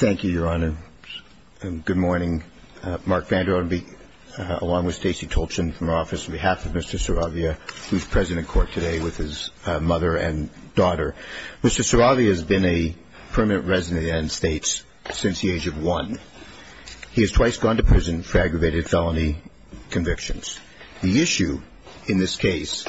Thank you, Your Honor. Good morning. Mark Vander Ottenby, along with Stacey Tolchin from our office, on behalf of Mr. Saravia, who is present in court today with his mother and daughter. Mr. Saravia has been a permanent resident of the United States since the age of one. He has twice gone to prison for aggravated felony convictions. The issue in this case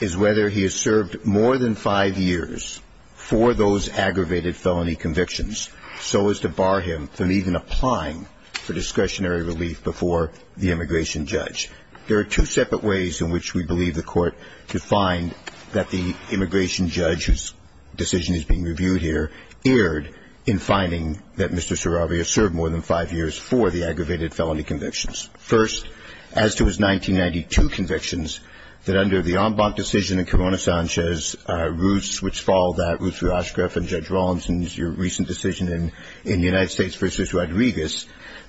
is whether he has served more than five years for those aggravated felony convictions so as to bar him from even applying for discretionary relief before the immigration judge. There are two separate ways in which we believe the Court could find that the immigration judge, whose decision is being reviewed here, erred in finding that Mr. Saravia served more than five years for the aggravated felony convictions. First, as to his 1992 convictions, that under the en banc decision in Corona Sanchez, Roots, which followed that, Roots-Rashgraf and Judge Rawlinson's recent decision in United States v. Rodriguez,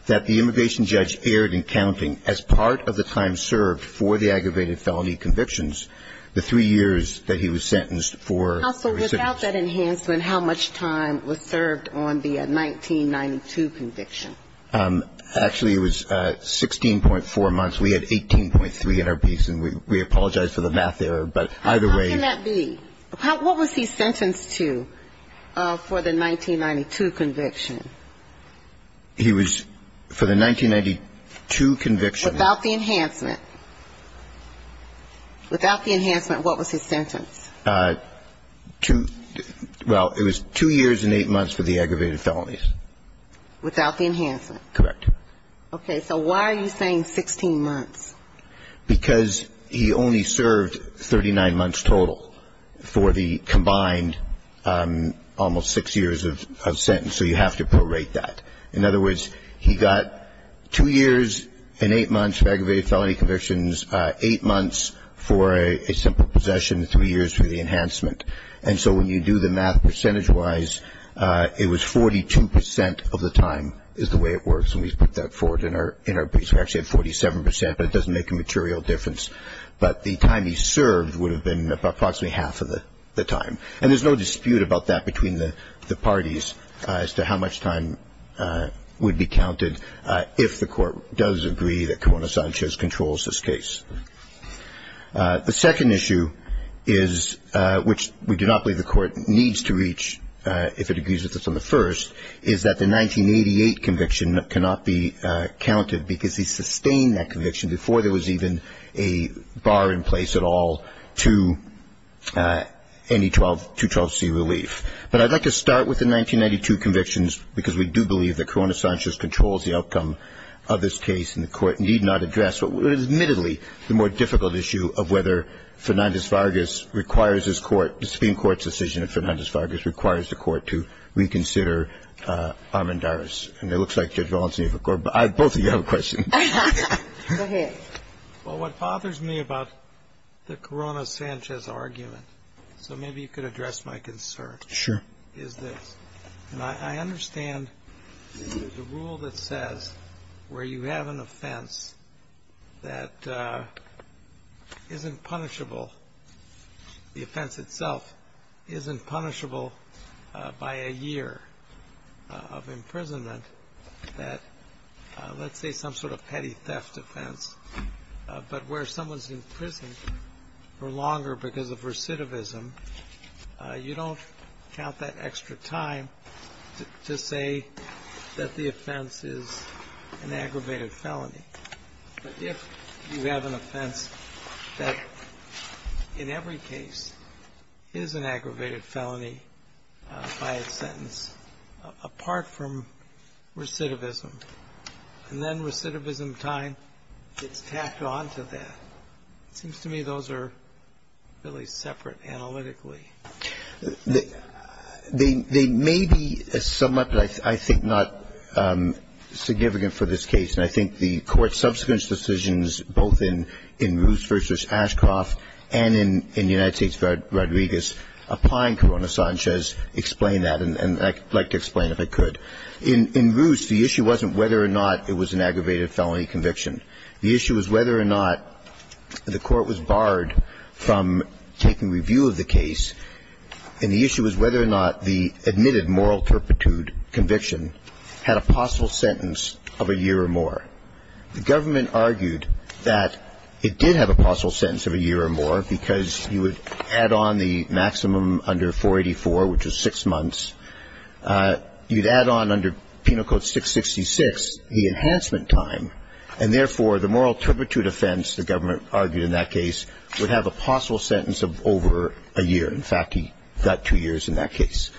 that the immigration judge erred in counting, as part of the time served for the aggravated felony convictions, the three years that he was sentenced for. Counsel, without that enhancement, how much time was served on the 1992 conviction? Actually, it was 16.4 months. We had 18.3 in our piece, and we apologize for the math error, but either way. How can that be? What was he sentenced to for the 1992 conviction? He was, for the 1992 conviction. Without the enhancement. Without the enhancement, what was his sentence? Well, it was two years and eight months for the aggravated felonies. Without the enhancement. Correct. Okay. So why are you saying 16 months? Because he only served 39 months total for the combined almost six years of sentence, so you have to prorate that. In other words, he got two years and eight months for aggravated felony convictions, eight months for a simple possession, three years for the enhancement. And so when you do the math percentage-wise, it was 42% of the time is the way it works, and we've put that forward in our piece. We actually have 47%, but it doesn't make a material difference. But the time he served would have been approximately half of the time. And there's no dispute about that between the parties as to how much time would be counted if the court does agree that Corona Sanchez controls this case. The second issue is, which we do not believe the court needs to reach if it agrees with us on the first, is that the 1988 conviction cannot be counted because he sustained that conviction before there was even a bar in place at all to any 212C relief. But I'd like to start with the 1992 convictions, because we do believe that Corona Sanchez controls the outcome of this case, and the court need not address what was admittedly the more difficult issue of whether Fernandez-Vargas requires this court, the Supreme Court's decision if Fernandez-Vargas requires the court to reconsider Armendariz. And it looks like Judge Walensky, both of you have a question. Go ahead. Well, what bothers me about the Corona Sanchez argument, so maybe you could address my concern. Sure. And I understand the rule that says where you have an offense that isn't punishable, the offense itself isn't punishable by a year of imprisonment, that let's say some sort of petty theft offense, but where someone's in prison for longer because of recidivism, you don't count that extra time to say that the offense is an aggravated felony. But if you have an offense that in every case is an aggravated felony by its sentence, apart from recidivism, and then recidivism time gets tacked onto that, it seems to me those are really separate analytically. They may be somewhat, but I think not significant for this case, and I think the court's subsequent decisions both in Roos v. Ashcroft and in United States v. Rodriguez applying Corona Sanchez explain that, and I'd like to explain if I could. In Roos, the issue wasn't whether or not it was an aggravated felony conviction. The issue was whether or not the court was barred from taking review of the case, and the issue was whether or not the admitted moral turpitude conviction had a possible sentence of a year or more. The government argued that it did have a possible sentence of a year or more because you would add on the maximum under 484, which was six months. You'd add on under Penal Code 666 the enhancement time, and therefore the moral turpitude offense, the government argued in that case, would have a possible sentence of over a year. In fact, he got two years in that case.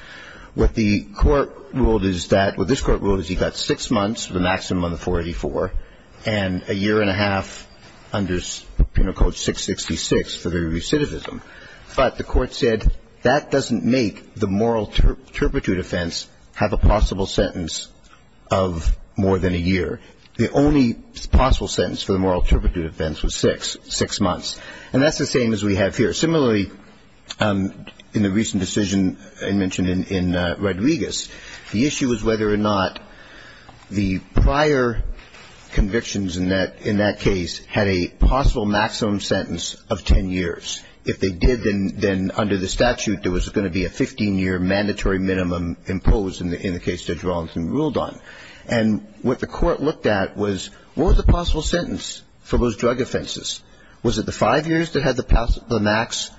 What the court ruled is that, what this court ruled is he got six months, the maximum on the 484, and a year and a half under Penal Code 666 for the recidivism. But the court said that doesn't make the moral turpitude offense have a possible sentence of more than a year. The only possible sentence for the moral turpitude offense was six, six months. And that's the same as we have here. Similarly, in the recent decision I mentioned in Rodriguez, the issue was whether or not the prior convictions in that case had a possible maximum sentence of ten years. If they did, then under the statute, there was going to be a 15-year mandatory minimum imposed in the case Judge Rollins ruled on. And what the court looked at was, what was the possible sentence for those drug offenses? Was it the five years that had the max,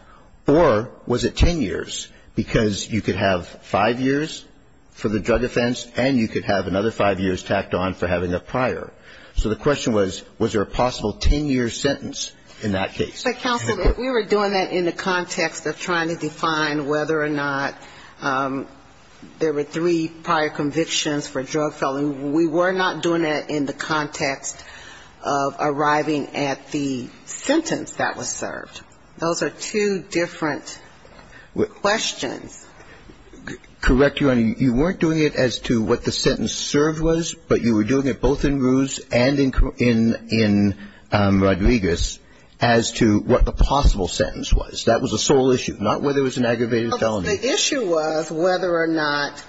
or was it ten years? Because you could have five years for the drug offense, and you could have another five years tacked on for having a prior. So the question was, was there a possible ten-year sentence in that case? So, counsel, if we were doing that in the context of trying to define whether or not there were three prior convictions for drug felon, we were not doing that in the context of arriving at the sentence that was served. Those are two different questions. Correct, Your Honor. You weren't doing it as to what the sentence served was, but you were doing it both in Ruse and in Rodriguez as to what the possible sentence was. That was the sole issue, not whether it was an aggravated felony. The issue was whether or not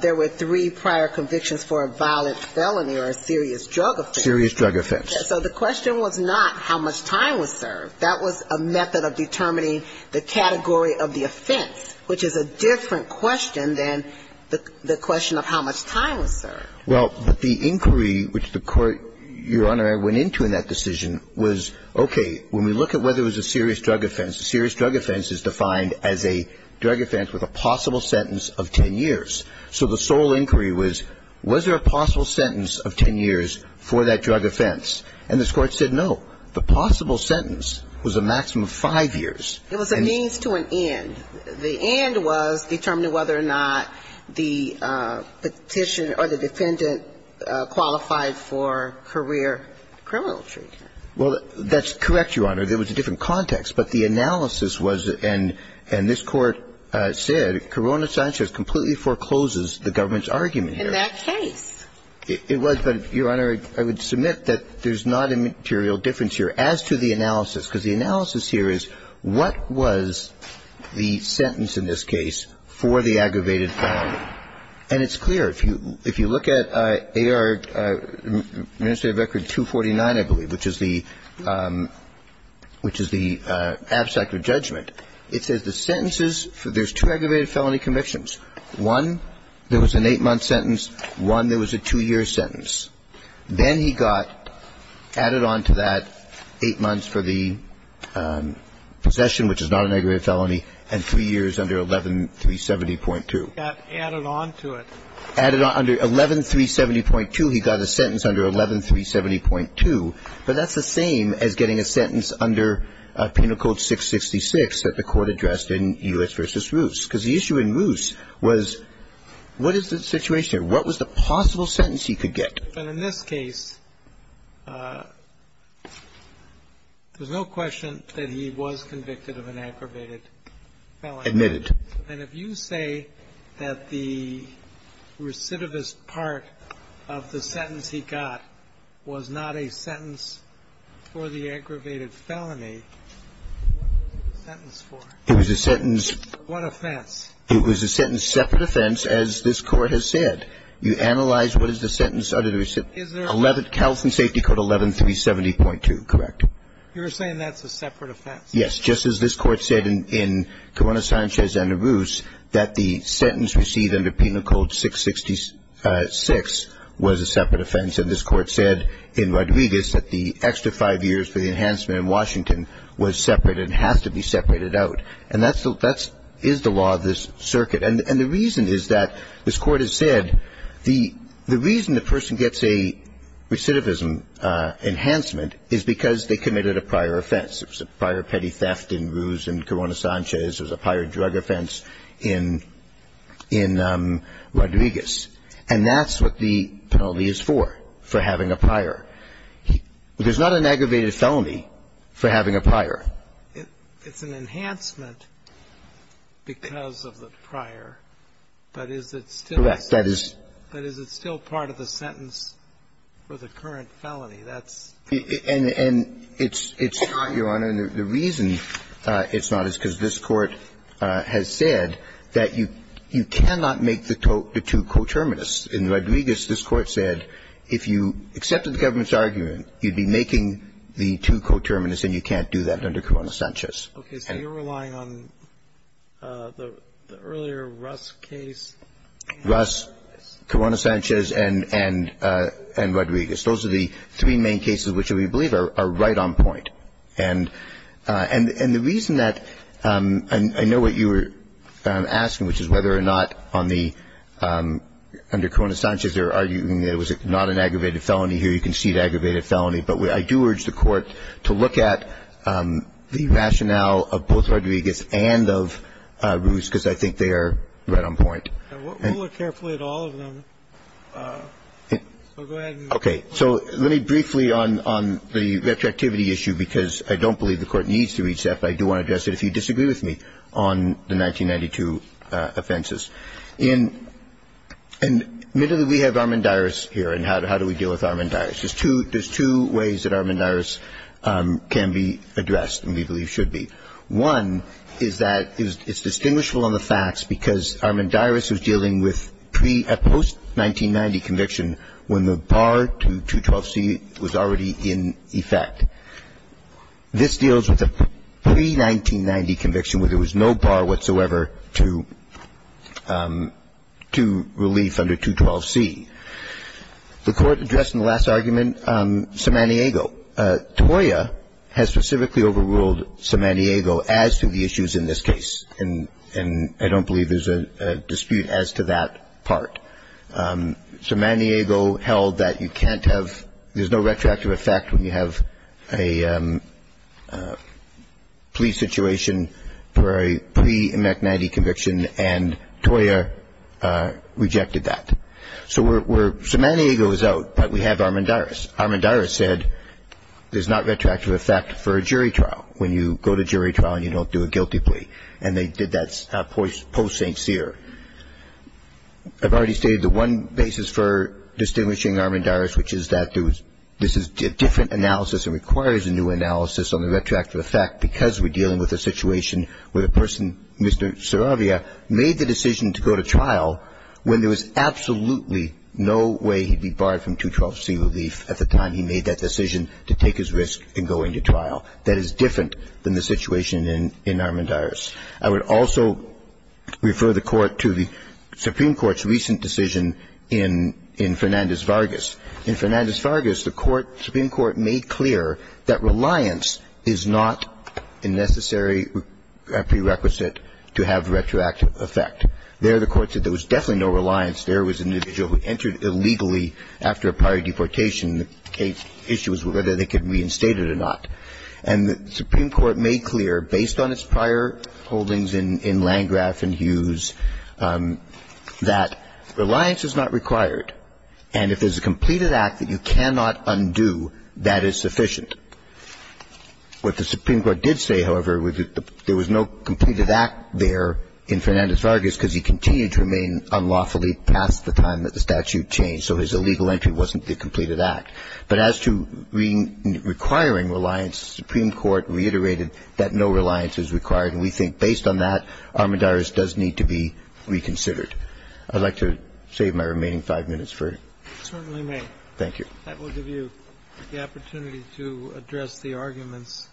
there were three prior convictions for a violent felony or a serious drug offense. Serious drug offense. So the question was not how much time was served. That was a method of determining the category of the offense, which is a different question than the question of how much time was served. Well, the inquiry which the Court, Your Honor, went into in that decision was, okay, when we look at whether it was a serious drug offense, a serious drug offense is defined as a drug offense with a possible sentence of ten years. So the sole inquiry was, was there a possible sentence of ten years for that drug offense? And this Court said no. The possible sentence was a maximum of five years. It was a means to an end. The end was determining whether or not the petitioner or the defendant qualified for career criminal treatment. Well, that's correct, Your Honor. There was a different context. But the analysis was, and this Court said, Corona Science has completely foreclosed the government's argument here. In that case. It was, but, Your Honor, I would submit that there's not a material difference here as to the analysis. Because the analysis here is, what was the sentence in this case for the aggravated felony? And it's clear. If you look at AR, Administrative Record 249, I believe, which is the, which is the abstract of judgment, it says the sentences, there's two aggravated felony convictions. One, there was an eight-month sentence. One, there was a two-year sentence. Then he got added on to that eight months for the possession, which is not an aggravated felony, and three years under 11370.2. He got added on to it. Added on. Under 11370.2, he got a sentence under 11370.2. But that's the same as getting a sentence under Penal Code 666 that the Court addressed in Euless v. Roos. Because the issue in Roos was, what is the situation here? What was the possible sentence he could get? And in this case, there's no question that he was convicted of an aggravated felony. Admitted. And if you say that the recidivist part of the sentence he got was not a sentence for the aggravated felony, what was the sentence for? It was a sentence. What offense? It was a sentence, separate offense, as this Court has said. You analyze what is the sentence under the recidivist. Is there a separate offense? California Safety Code 11370.2, correct. You're saying that's a separate offense? Yes. Just as this Court said in Corona Sanchez v. Roos that the sentence received under Penal Code 666 was a separate offense, and this Court said in Rodriguez that the extra five years for the enhancement in Washington was separate and has to be separated out. And that's the law of this circuit. And the reason is that, as Court has said, the reason the person gets a recidivism enhancement is because they committed a prior offense. It was a prior petty theft in Roos and Corona Sanchez. It was a prior drug offense in Rodriguez. And that's what the penalty is for, for having a prior. It's an enhancement because of the prior. But is it still part of the sentence for the current felony? And it's not, Your Honor. The reason it's not is because this Court has said that you cannot make the two coterminous. In Rodriguez, this Court said if you accepted the government's argument, you'd be making the two coterminous, and you can't do that under Corona Sanchez. Okay. So you're relying on the earlier Roos case? Roos, Corona Sanchez, and Rodriguez. Those are the three main cases which we believe are right on point. And the reason that I know what you were asking, which is whether or not on the under Corona Sanchez they're arguing that it was not an aggravated felony. Here you can see the aggravated felony. But I do urge the Court to look at the rationale of both Rodriguez and of Roos, because I think they are right on point. We'll look carefully at all of them. So go ahead. Okay. So let me briefly on the retroactivity issue, because I don't believe the Court needs to reach that, but I do want to address it if you disagree with me on the 1992 offenses. And admittedly, we have Armandiris here, and how do we deal with Armandiris? There's two ways that Armandiris can be addressed, and we believe should be. One is that it's distinguishable on the facts, because Armandiris was dealing with a post-1990 conviction when the bar to 212C was already in effect. This deals with a pre-1990 conviction where there was no bar whatsoever to 212C. The Court addressed in the last argument Somaniego. TOIA has specifically overruled Somaniego as to the issues in this case, and I don't believe there's a dispute as to that part. Somaniego held that you can't have – there's no retroactive effect when you have a police situation for a pre-1990 conviction, and TOIA rejected that. So Somaniego is out, but we have Armandiris. Armandiris said there's not retroactive effect for a jury trial when you go to jury trial and you don't do a guilty plea, and they did that post-St. Cyr. I've already stated the one basis for distinguishing Armandiris, which is that this is a different analysis and requires a new analysis on the retroactive effect because we're dealing with a situation where the person, Mr. Saravia, made the decision to go to trial when there was absolutely no way he'd be barred from 212C relief at the time he made that decision to take his risk in going to trial. That is different than the situation in Armandiris. I would also refer the Court to the Supreme Court's recent decision in Fernandez-Vargas. In Fernandez-Vargas, the Supreme Court made clear that reliance is not a necessary prerequisite to have retroactive effect. There, the Court said there was definitely no reliance. There was an individual who entered illegally after a prior deportation. The issue was whether they could reinstate it or not. And the Supreme Court made clear, based on its prior holdings in Landgraf and Hughes, that reliance is not required, and if there's a completed act that you cannot undo, that is sufficient. What the Supreme Court did say, however, was that there was no completed act there in Fernandez-Vargas because he continued to remain unlawfully past the time that the statute changed. So his illegal entry wasn't the completed act. But as to requiring reliance, the Supreme Court reiterated that no reliance is required. And we think, based on that, Armadares does need to be reconsidered. I'd like to save my remaining five minutes for it. Certainly may. Thank you. That will give you the opportunity to address the arguments.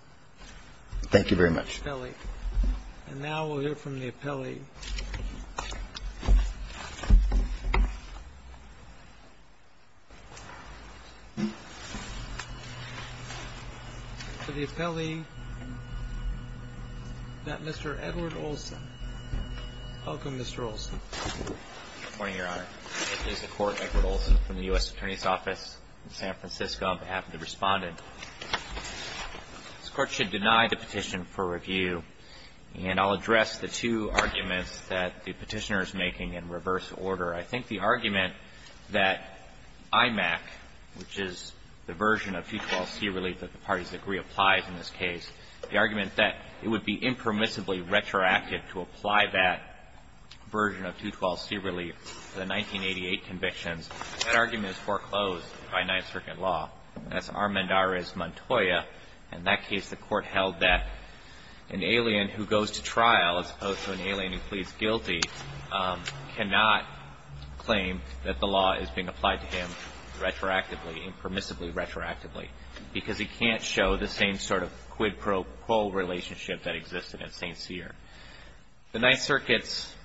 Thank you very much. And now we'll hear from the appellee. So the appellee, Mr. Edward Olson. Welcome, Mr. Olson. Good morning, Your Honor. This is the Court Edward Olson from the U.S. Attorney's Office in San Francisco on behalf of the Respondent. This Court should deny the petition for review. And I'll address the two arguments that the Petitioner is making in reverse order. I think the argument that IMAC, which is the version of 212C relief that the parties agree applies in this case, the argument that it would be impermissibly retroactive to apply that version of 212C relief to the 1988 convictions, that argument is foreclosed by Ninth Circuit law. That's Armadares-Montoya. In that case, the Court held that an alien who goes to trial, as opposed to an alien who pleads guilty, cannot claim that the law is being applied to him retroactively, impermissibly retroactively, because he can't show the same sort of quid pro quo The Ninth Circuit's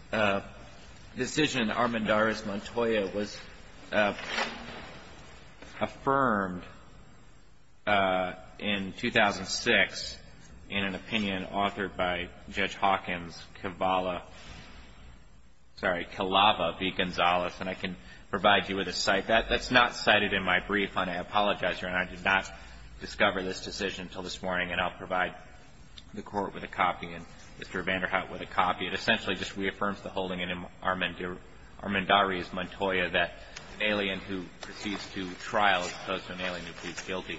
decision, Armadares-Montoya, was affirmed in 2006 in an opinion authored by Judge Hawkins, Kevala, sorry, Kevala v. Gonzales. And I can provide you with a cite. That's not cited in my brief, and I apologize, Your Honor. I did not discover this decision until this morning, and I'll provide the Court with a copy. It essentially just reaffirms the holding in Armadares-Montoya that an alien who proceeds to trial, as opposed to an alien who pleads guilty,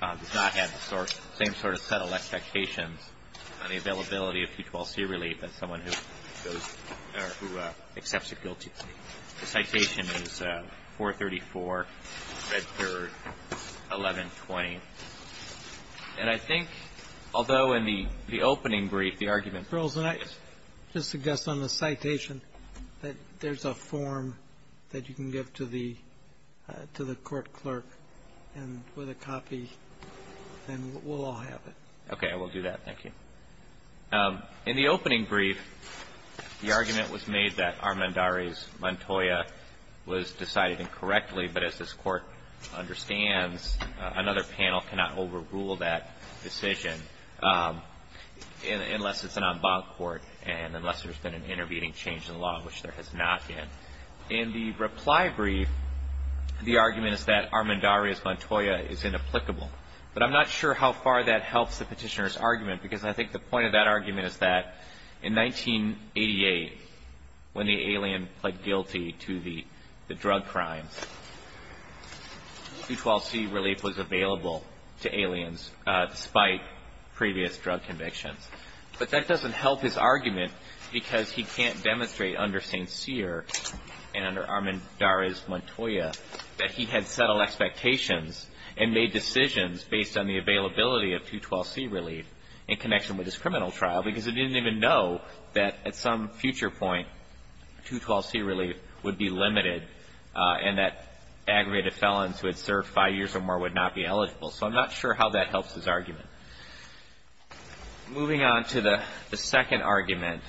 does not have the same sort of subtle expectations on the availability of 212C relief as someone who accepts a guilty plea. The citation is 434, Red 3rd, 1120. And I think, although in the opening brief, the argument was Mr. Earls, can I just suggest on the citation that there's a form that you can give to the Court clerk with a copy, and we'll all have it. Okay. I will do that. Thank you. In the opening brief, the argument was made that Armadares-Montoya was decided incorrectly, but as this Court understands, another panel cannot overrule that decision unless it's an en banc court and unless there's been an intervening change in the law, which there has not been. In the reply brief, the argument is that Armadares-Montoya is inapplicable. But I'm not sure how far that helps the petitioner's argument, because I think the point of that argument is that Armadares-Montoya is inapplicable. He's not guilty of any crimes. 212C relief was available to aliens, despite previous drug convictions. But that doesn't help his argument, because he can't demonstrate under St. Cyr and under Armadares-Montoya that he had settled expectations and made decisions based on the availability of 212C relief in connection with his criminal trial, because he didn't even know that at some future point, 212C relief would be limited and that aggravated felons who had served five years or more would not be eligible. So I'm not sure how that helps his argument. Moving on to the second argument,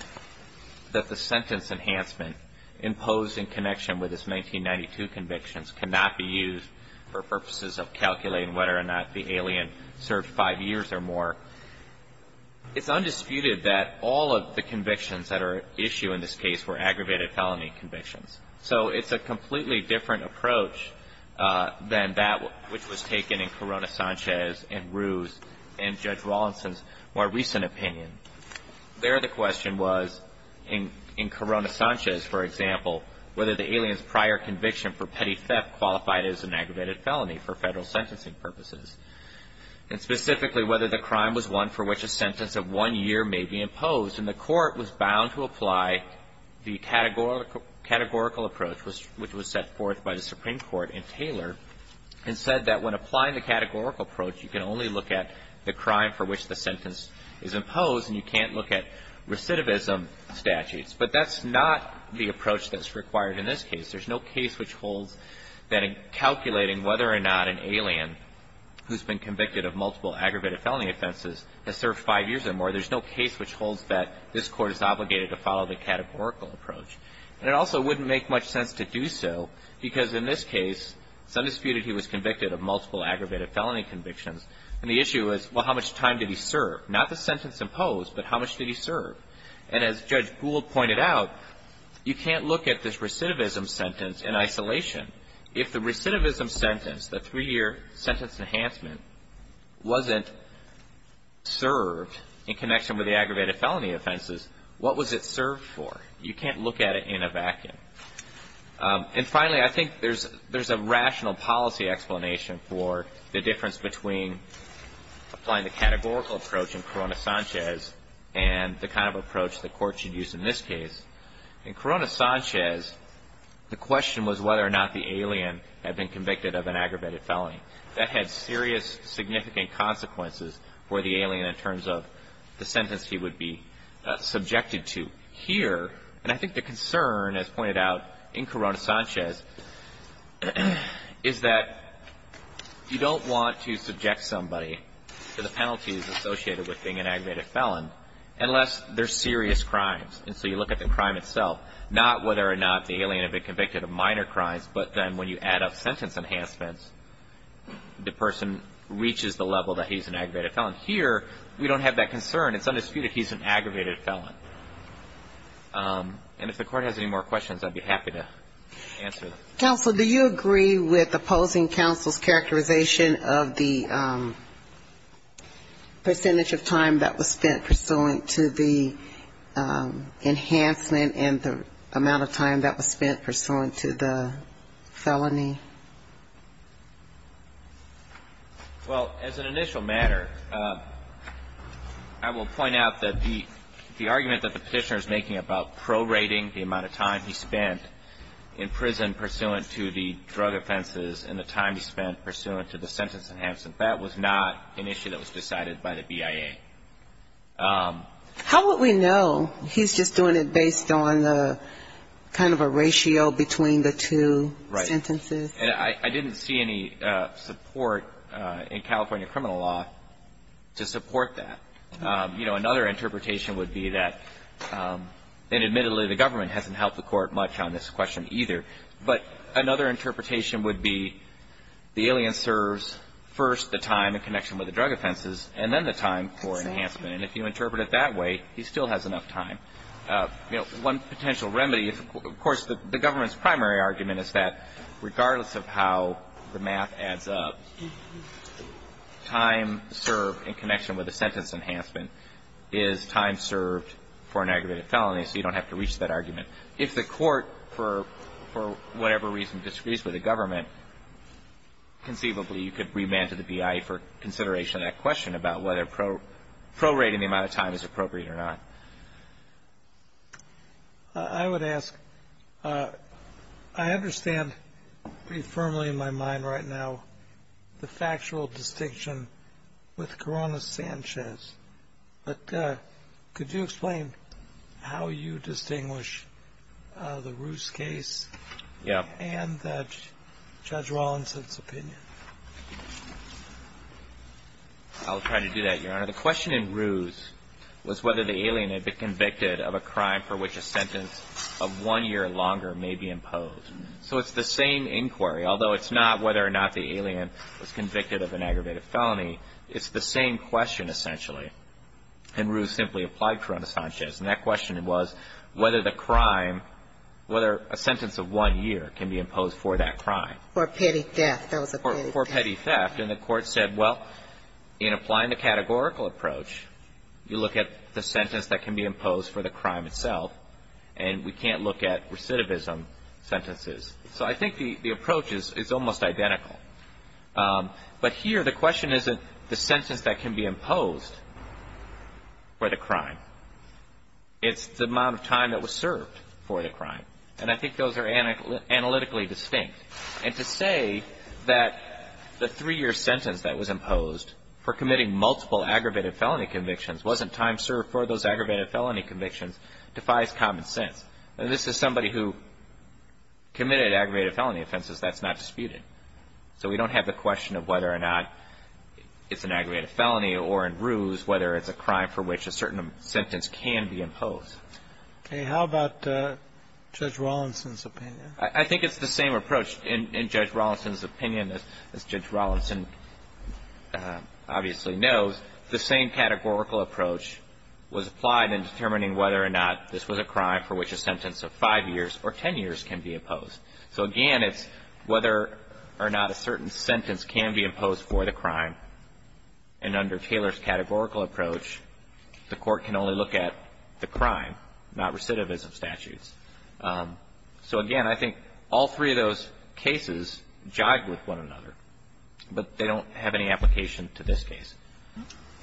that the sentence enhancement imposed in connection with his 1992 convictions cannot be used for purposes of calculating whether or not the aliens had served five years or more, it's undisputed that all of the convictions that are at issue in this case were aggravated felony convictions. So it's a completely different approach than that which was taken in Corona-Sanchez and Ruse and Judge Wallinson's more recent opinion. There the question was, in Corona-Sanchez, for example, whether the aliens' prior conviction for petty theft qualified as an aggravated felony for Federal sentencing purposes. Specifically, whether the crime was one for which a sentence of one year may be imposed. And the Court was bound to apply the categorical approach, which was set forth by the Supreme Court in Taylor, and said that when applying the categorical approach, you can only look at the crime for which the sentence is imposed and you can't look at recidivism statutes. But that's not the approach that's required in this case. There's no case which holds that in calculating whether or not an alien who's been convicted of multiple aggravated felony offenses has served five years or more. There's no case which holds that this Court is obligated to follow the categorical approach. And it also wouldn't make much sense to do so, because in this case, it's undisputed he was convicted of multiple aggravated felony convictions. And the issue is, well, how much time did he serve? Not the sentence imposed, but how much did he serve? And as Judge Gould pointed out, you can't look at this recidivism sentence in isolation. If the recidivism sentence, the three-year sentence enhancement, wasn't served in connection with the aggravated felony offenses, what was it served for? You can't look at it in a vacuum. And finally, I think there's a rational policy explanation for the difference between applying the categorical approach in Corona Sanchez and the kind of approach the Court should use in this case. In Corona Sanchez, the question was whether or not the alien had been convicted of an aggravated felony. That had serious, significant consequences for the alien in terms of the sentence he would be subjected to. Here, and I think the concern, as pointed out in Corona Sanchez, is that you don't want to subject somebody to the penalties associated with being an aggravated felon unless they're serious crimes. And so you look at the crime itself, not whether or not the alien had been convicted of minor crimes, but then when you add up sentence enhancements, the person reaches the level that he's an aggravated felon. Here, we don't have that concern. It's undisputed he's an aggravated felon. And if the Court has any more questions, I'd be happy to answer them. Counsel, do you agree with opposing counsel's characterization of the percentage of time that was spent pursuant to the enhancement and the amount of time that was spent pursuant to the felony? Well, as an initial matter, I will point out that the argument that the Petitioner is making about prorating the amount of time he spent in prison pursuant to the drug offenses and the time he spent pursuant to the sentence enhancement, that was not an issue that was decided by the BIA. How would we know? He's just doing it based on kind of a ratio between the two sentences. Right. And I didn't see any support in California criminal law to support that. You know, another interpretation would be that, and admittedly, the government hasn't helped the Court much on this question either, but another interpretation would be the alien serves first the time in connection with the drug offenses and then the time for enhancement. And if you interpret it that way, he still has enough time. You know, one potential remedy, of course, the government's primary argument is that regardless of how the math adds up, time served in connection with the sentence enhancement is time served for an aggravated felony, so you don't have to reach that argument. If the Court, for whatever reason, disagrees with the government, conceivably you could remand to the BIA for consideration on that question about whether prorating the amount of time is appropriate or not. I would ask, I understand pretty firmly in my mind right now the factual distinction with Corona Sanchez, but could you explain how you distinguish the Ruse case and Judge Rawlinson's opinion? I'll try to do that, Your Honor. The question in Ruse was whether the alien had been convicted of a crime for which a sentence of one year or longer may be imposed. So it's the same inquiry, although it's not whether or not the alien was convicted of an aggravated felony. It's the same question, essentially, and Ruse simply applied Corona Sanchez. And that question was whether the crime, whether a sentence of one year can be imposed for that crime. That was a petty theft. It was a poor, petty theft, and the Court said, well, in applying the categorical approach, you look at the sentence that can be imposed for the crime itself, and we can't look at recidivism sentences. So I think the approach is almost identical. But here the question isn't the sentence that can be imposed for the crime. It's the amount of time that was served for the crime. And I think those are analytically distinct. And to say that the three-year sentence that was imposed for committing multiple aggravated felony convictions wasn't time served for those aggravated felony convictions defies common sense. This is somebody who committed aggravated felony offenses. That's not disputed. So we don't have the question of whether or not it's an aggravated felony or in Ruse whether it's a crime for which a certain sentence can be imposed. Okay. How about Judge Rawlinson's opinion? I think it's the same approach in Judge Rawlinson's opinion, as Judge Rawlinson obviously knows. The same categorical approach was applied in determining whether or not this was a crime for which a sentence of 5 years or 10 years can be imposed. So, again, it's whether or not a certain sentence can be imposed for the crime. And under Taylor's categorical approach, the Court can only look at the crime, not recidivism statutes. So, again, I think all three of those cases jive with one another. But they don't have any application to this case.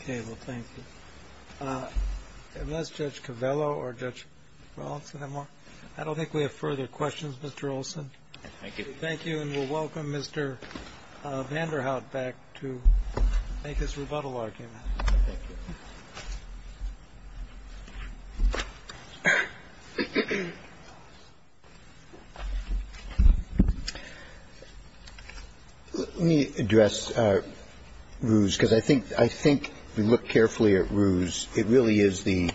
Okay. Well, thank you. Unless Judge Covello or Judge Rawlinson have more. I don't think we have further questions, Mr. Olson. Thank you. Thank you. And we'll welcome Mr. Vanderhaut back to make his rebuttal argument. Thank you. Let me address Ruse, because I think we look carefully at Ruse. It really is the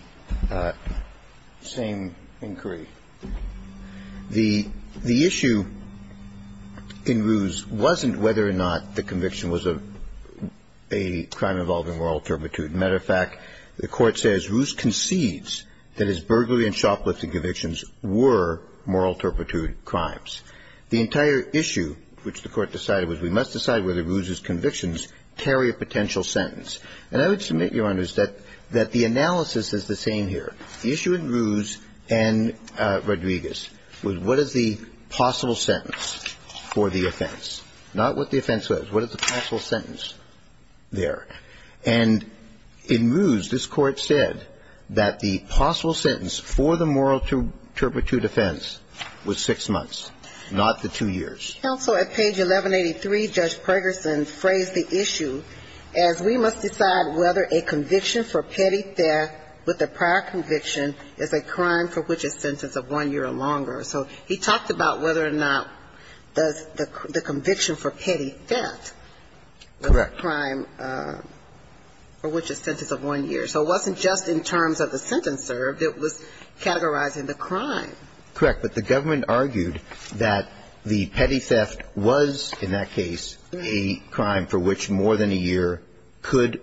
same inquiry. The issue in Ruse wasn't whether or not the conviction was a crime involving moral turpitude. As a matter of fact, the Court says Ruse concedes that his burglary and shoplifting convictions were moral turpitude crimes. The entire issue which the Court decided was we must decide whether Ruse's convictions carry a potential sentence. And I would submit, Your Honors, that the analysis is the same here. The issue in Ruse and Rodriguez was what is the possible sentence for the offense, not what the offense was. What is the possible sentence there? And in Ruse, this Court said that the possible sentence for the moral turpitude offense was six months, not the two years. Counsel, at page 1183, Judge Pergerson phrased the issue as we must decide whether a conviction for petty theft with a prior conviction is a crime for which a sentence of one year or longer. So he talked about whether or not the conviction for petty theft was a crime for which a sentence of one year. So it wasn't just in terms of the sentence served. It was categorizing the crime. Correct. But the government argued that the petty theft was, in that case, a crime for which more than a year could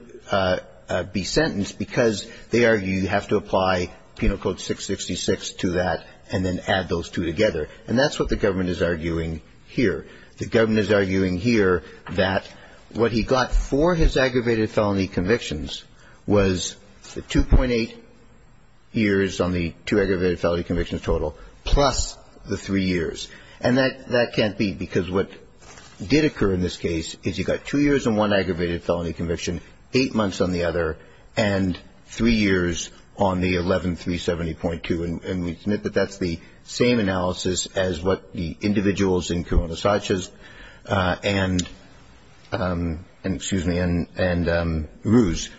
be sentenced because they argue you have to apply Penal Code 666 to that and then add those two together. And that's what the government is arguing here. The government is arguing here that what he got for his aggravated felony convictions was the 2.8 years on the two aggravated felony convictions total plus the three years. And that can't be because what did occur in this case is he got two years on one And we submit that that's the same analysis as what the individuals in Corona-Sanchez and, excuse me, and Ruse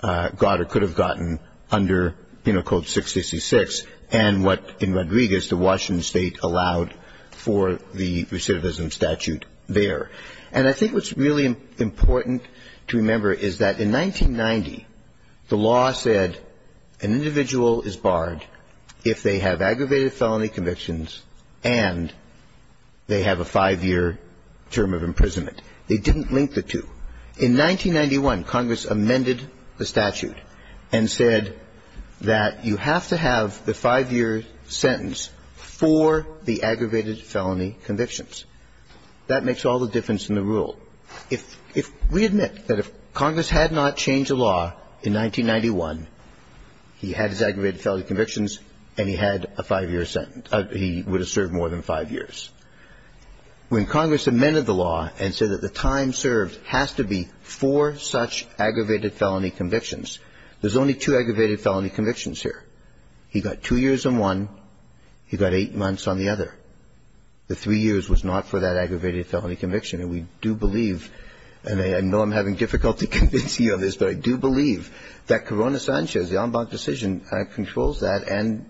got or could have gotten under Penal Code 666 and what, in Rodriguez, the Washington State allowed for the recidivism statute there. And I think what's really important to remember is that in 1990, the law said an individual is barred if they have aggravated felony convictions and they have a five-year term of imprisonment. They didn't link the two. In 1991, Congress amended the statute and said that you have to have the five-year sentence for the aggravated felony convictions. That makes all the difference in the rule. So if we admit that if Congress had not changed the law in 1991, he had his aggravated felony convictions and he had a five-year sentence. He would have served more than five years. When Congress amended the law and said that the time served has to be for such aggravated felony convictions, there's only two aggravated felony convictions here. He got two years on one. He got eight months on the other. The three years was not for that aggravated felony conviction. And we do believe, and I know I'm having difficulty convincing you on this, but I do believe that Corona-Sanchez, the en banc decision, controls that, and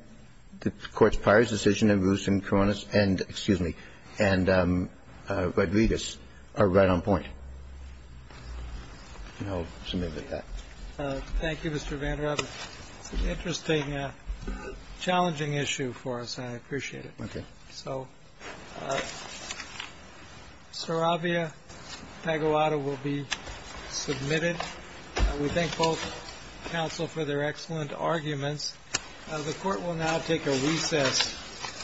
the Court's prior decision in Bruce and Corona's end, excuse me, and Rodriguez are right on point. And I'll submit with that. Thank you, Mr. Vanderhoff. It's an interesting, challenging issue for us. I appreciate it. Okay. So, Sarabia Pagoda will be submitted. We thank both counsel for their excellent arguments. The Court will now take a recess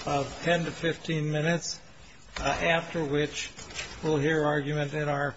of 10 to 15 minutes, after which we'll hear argument in our.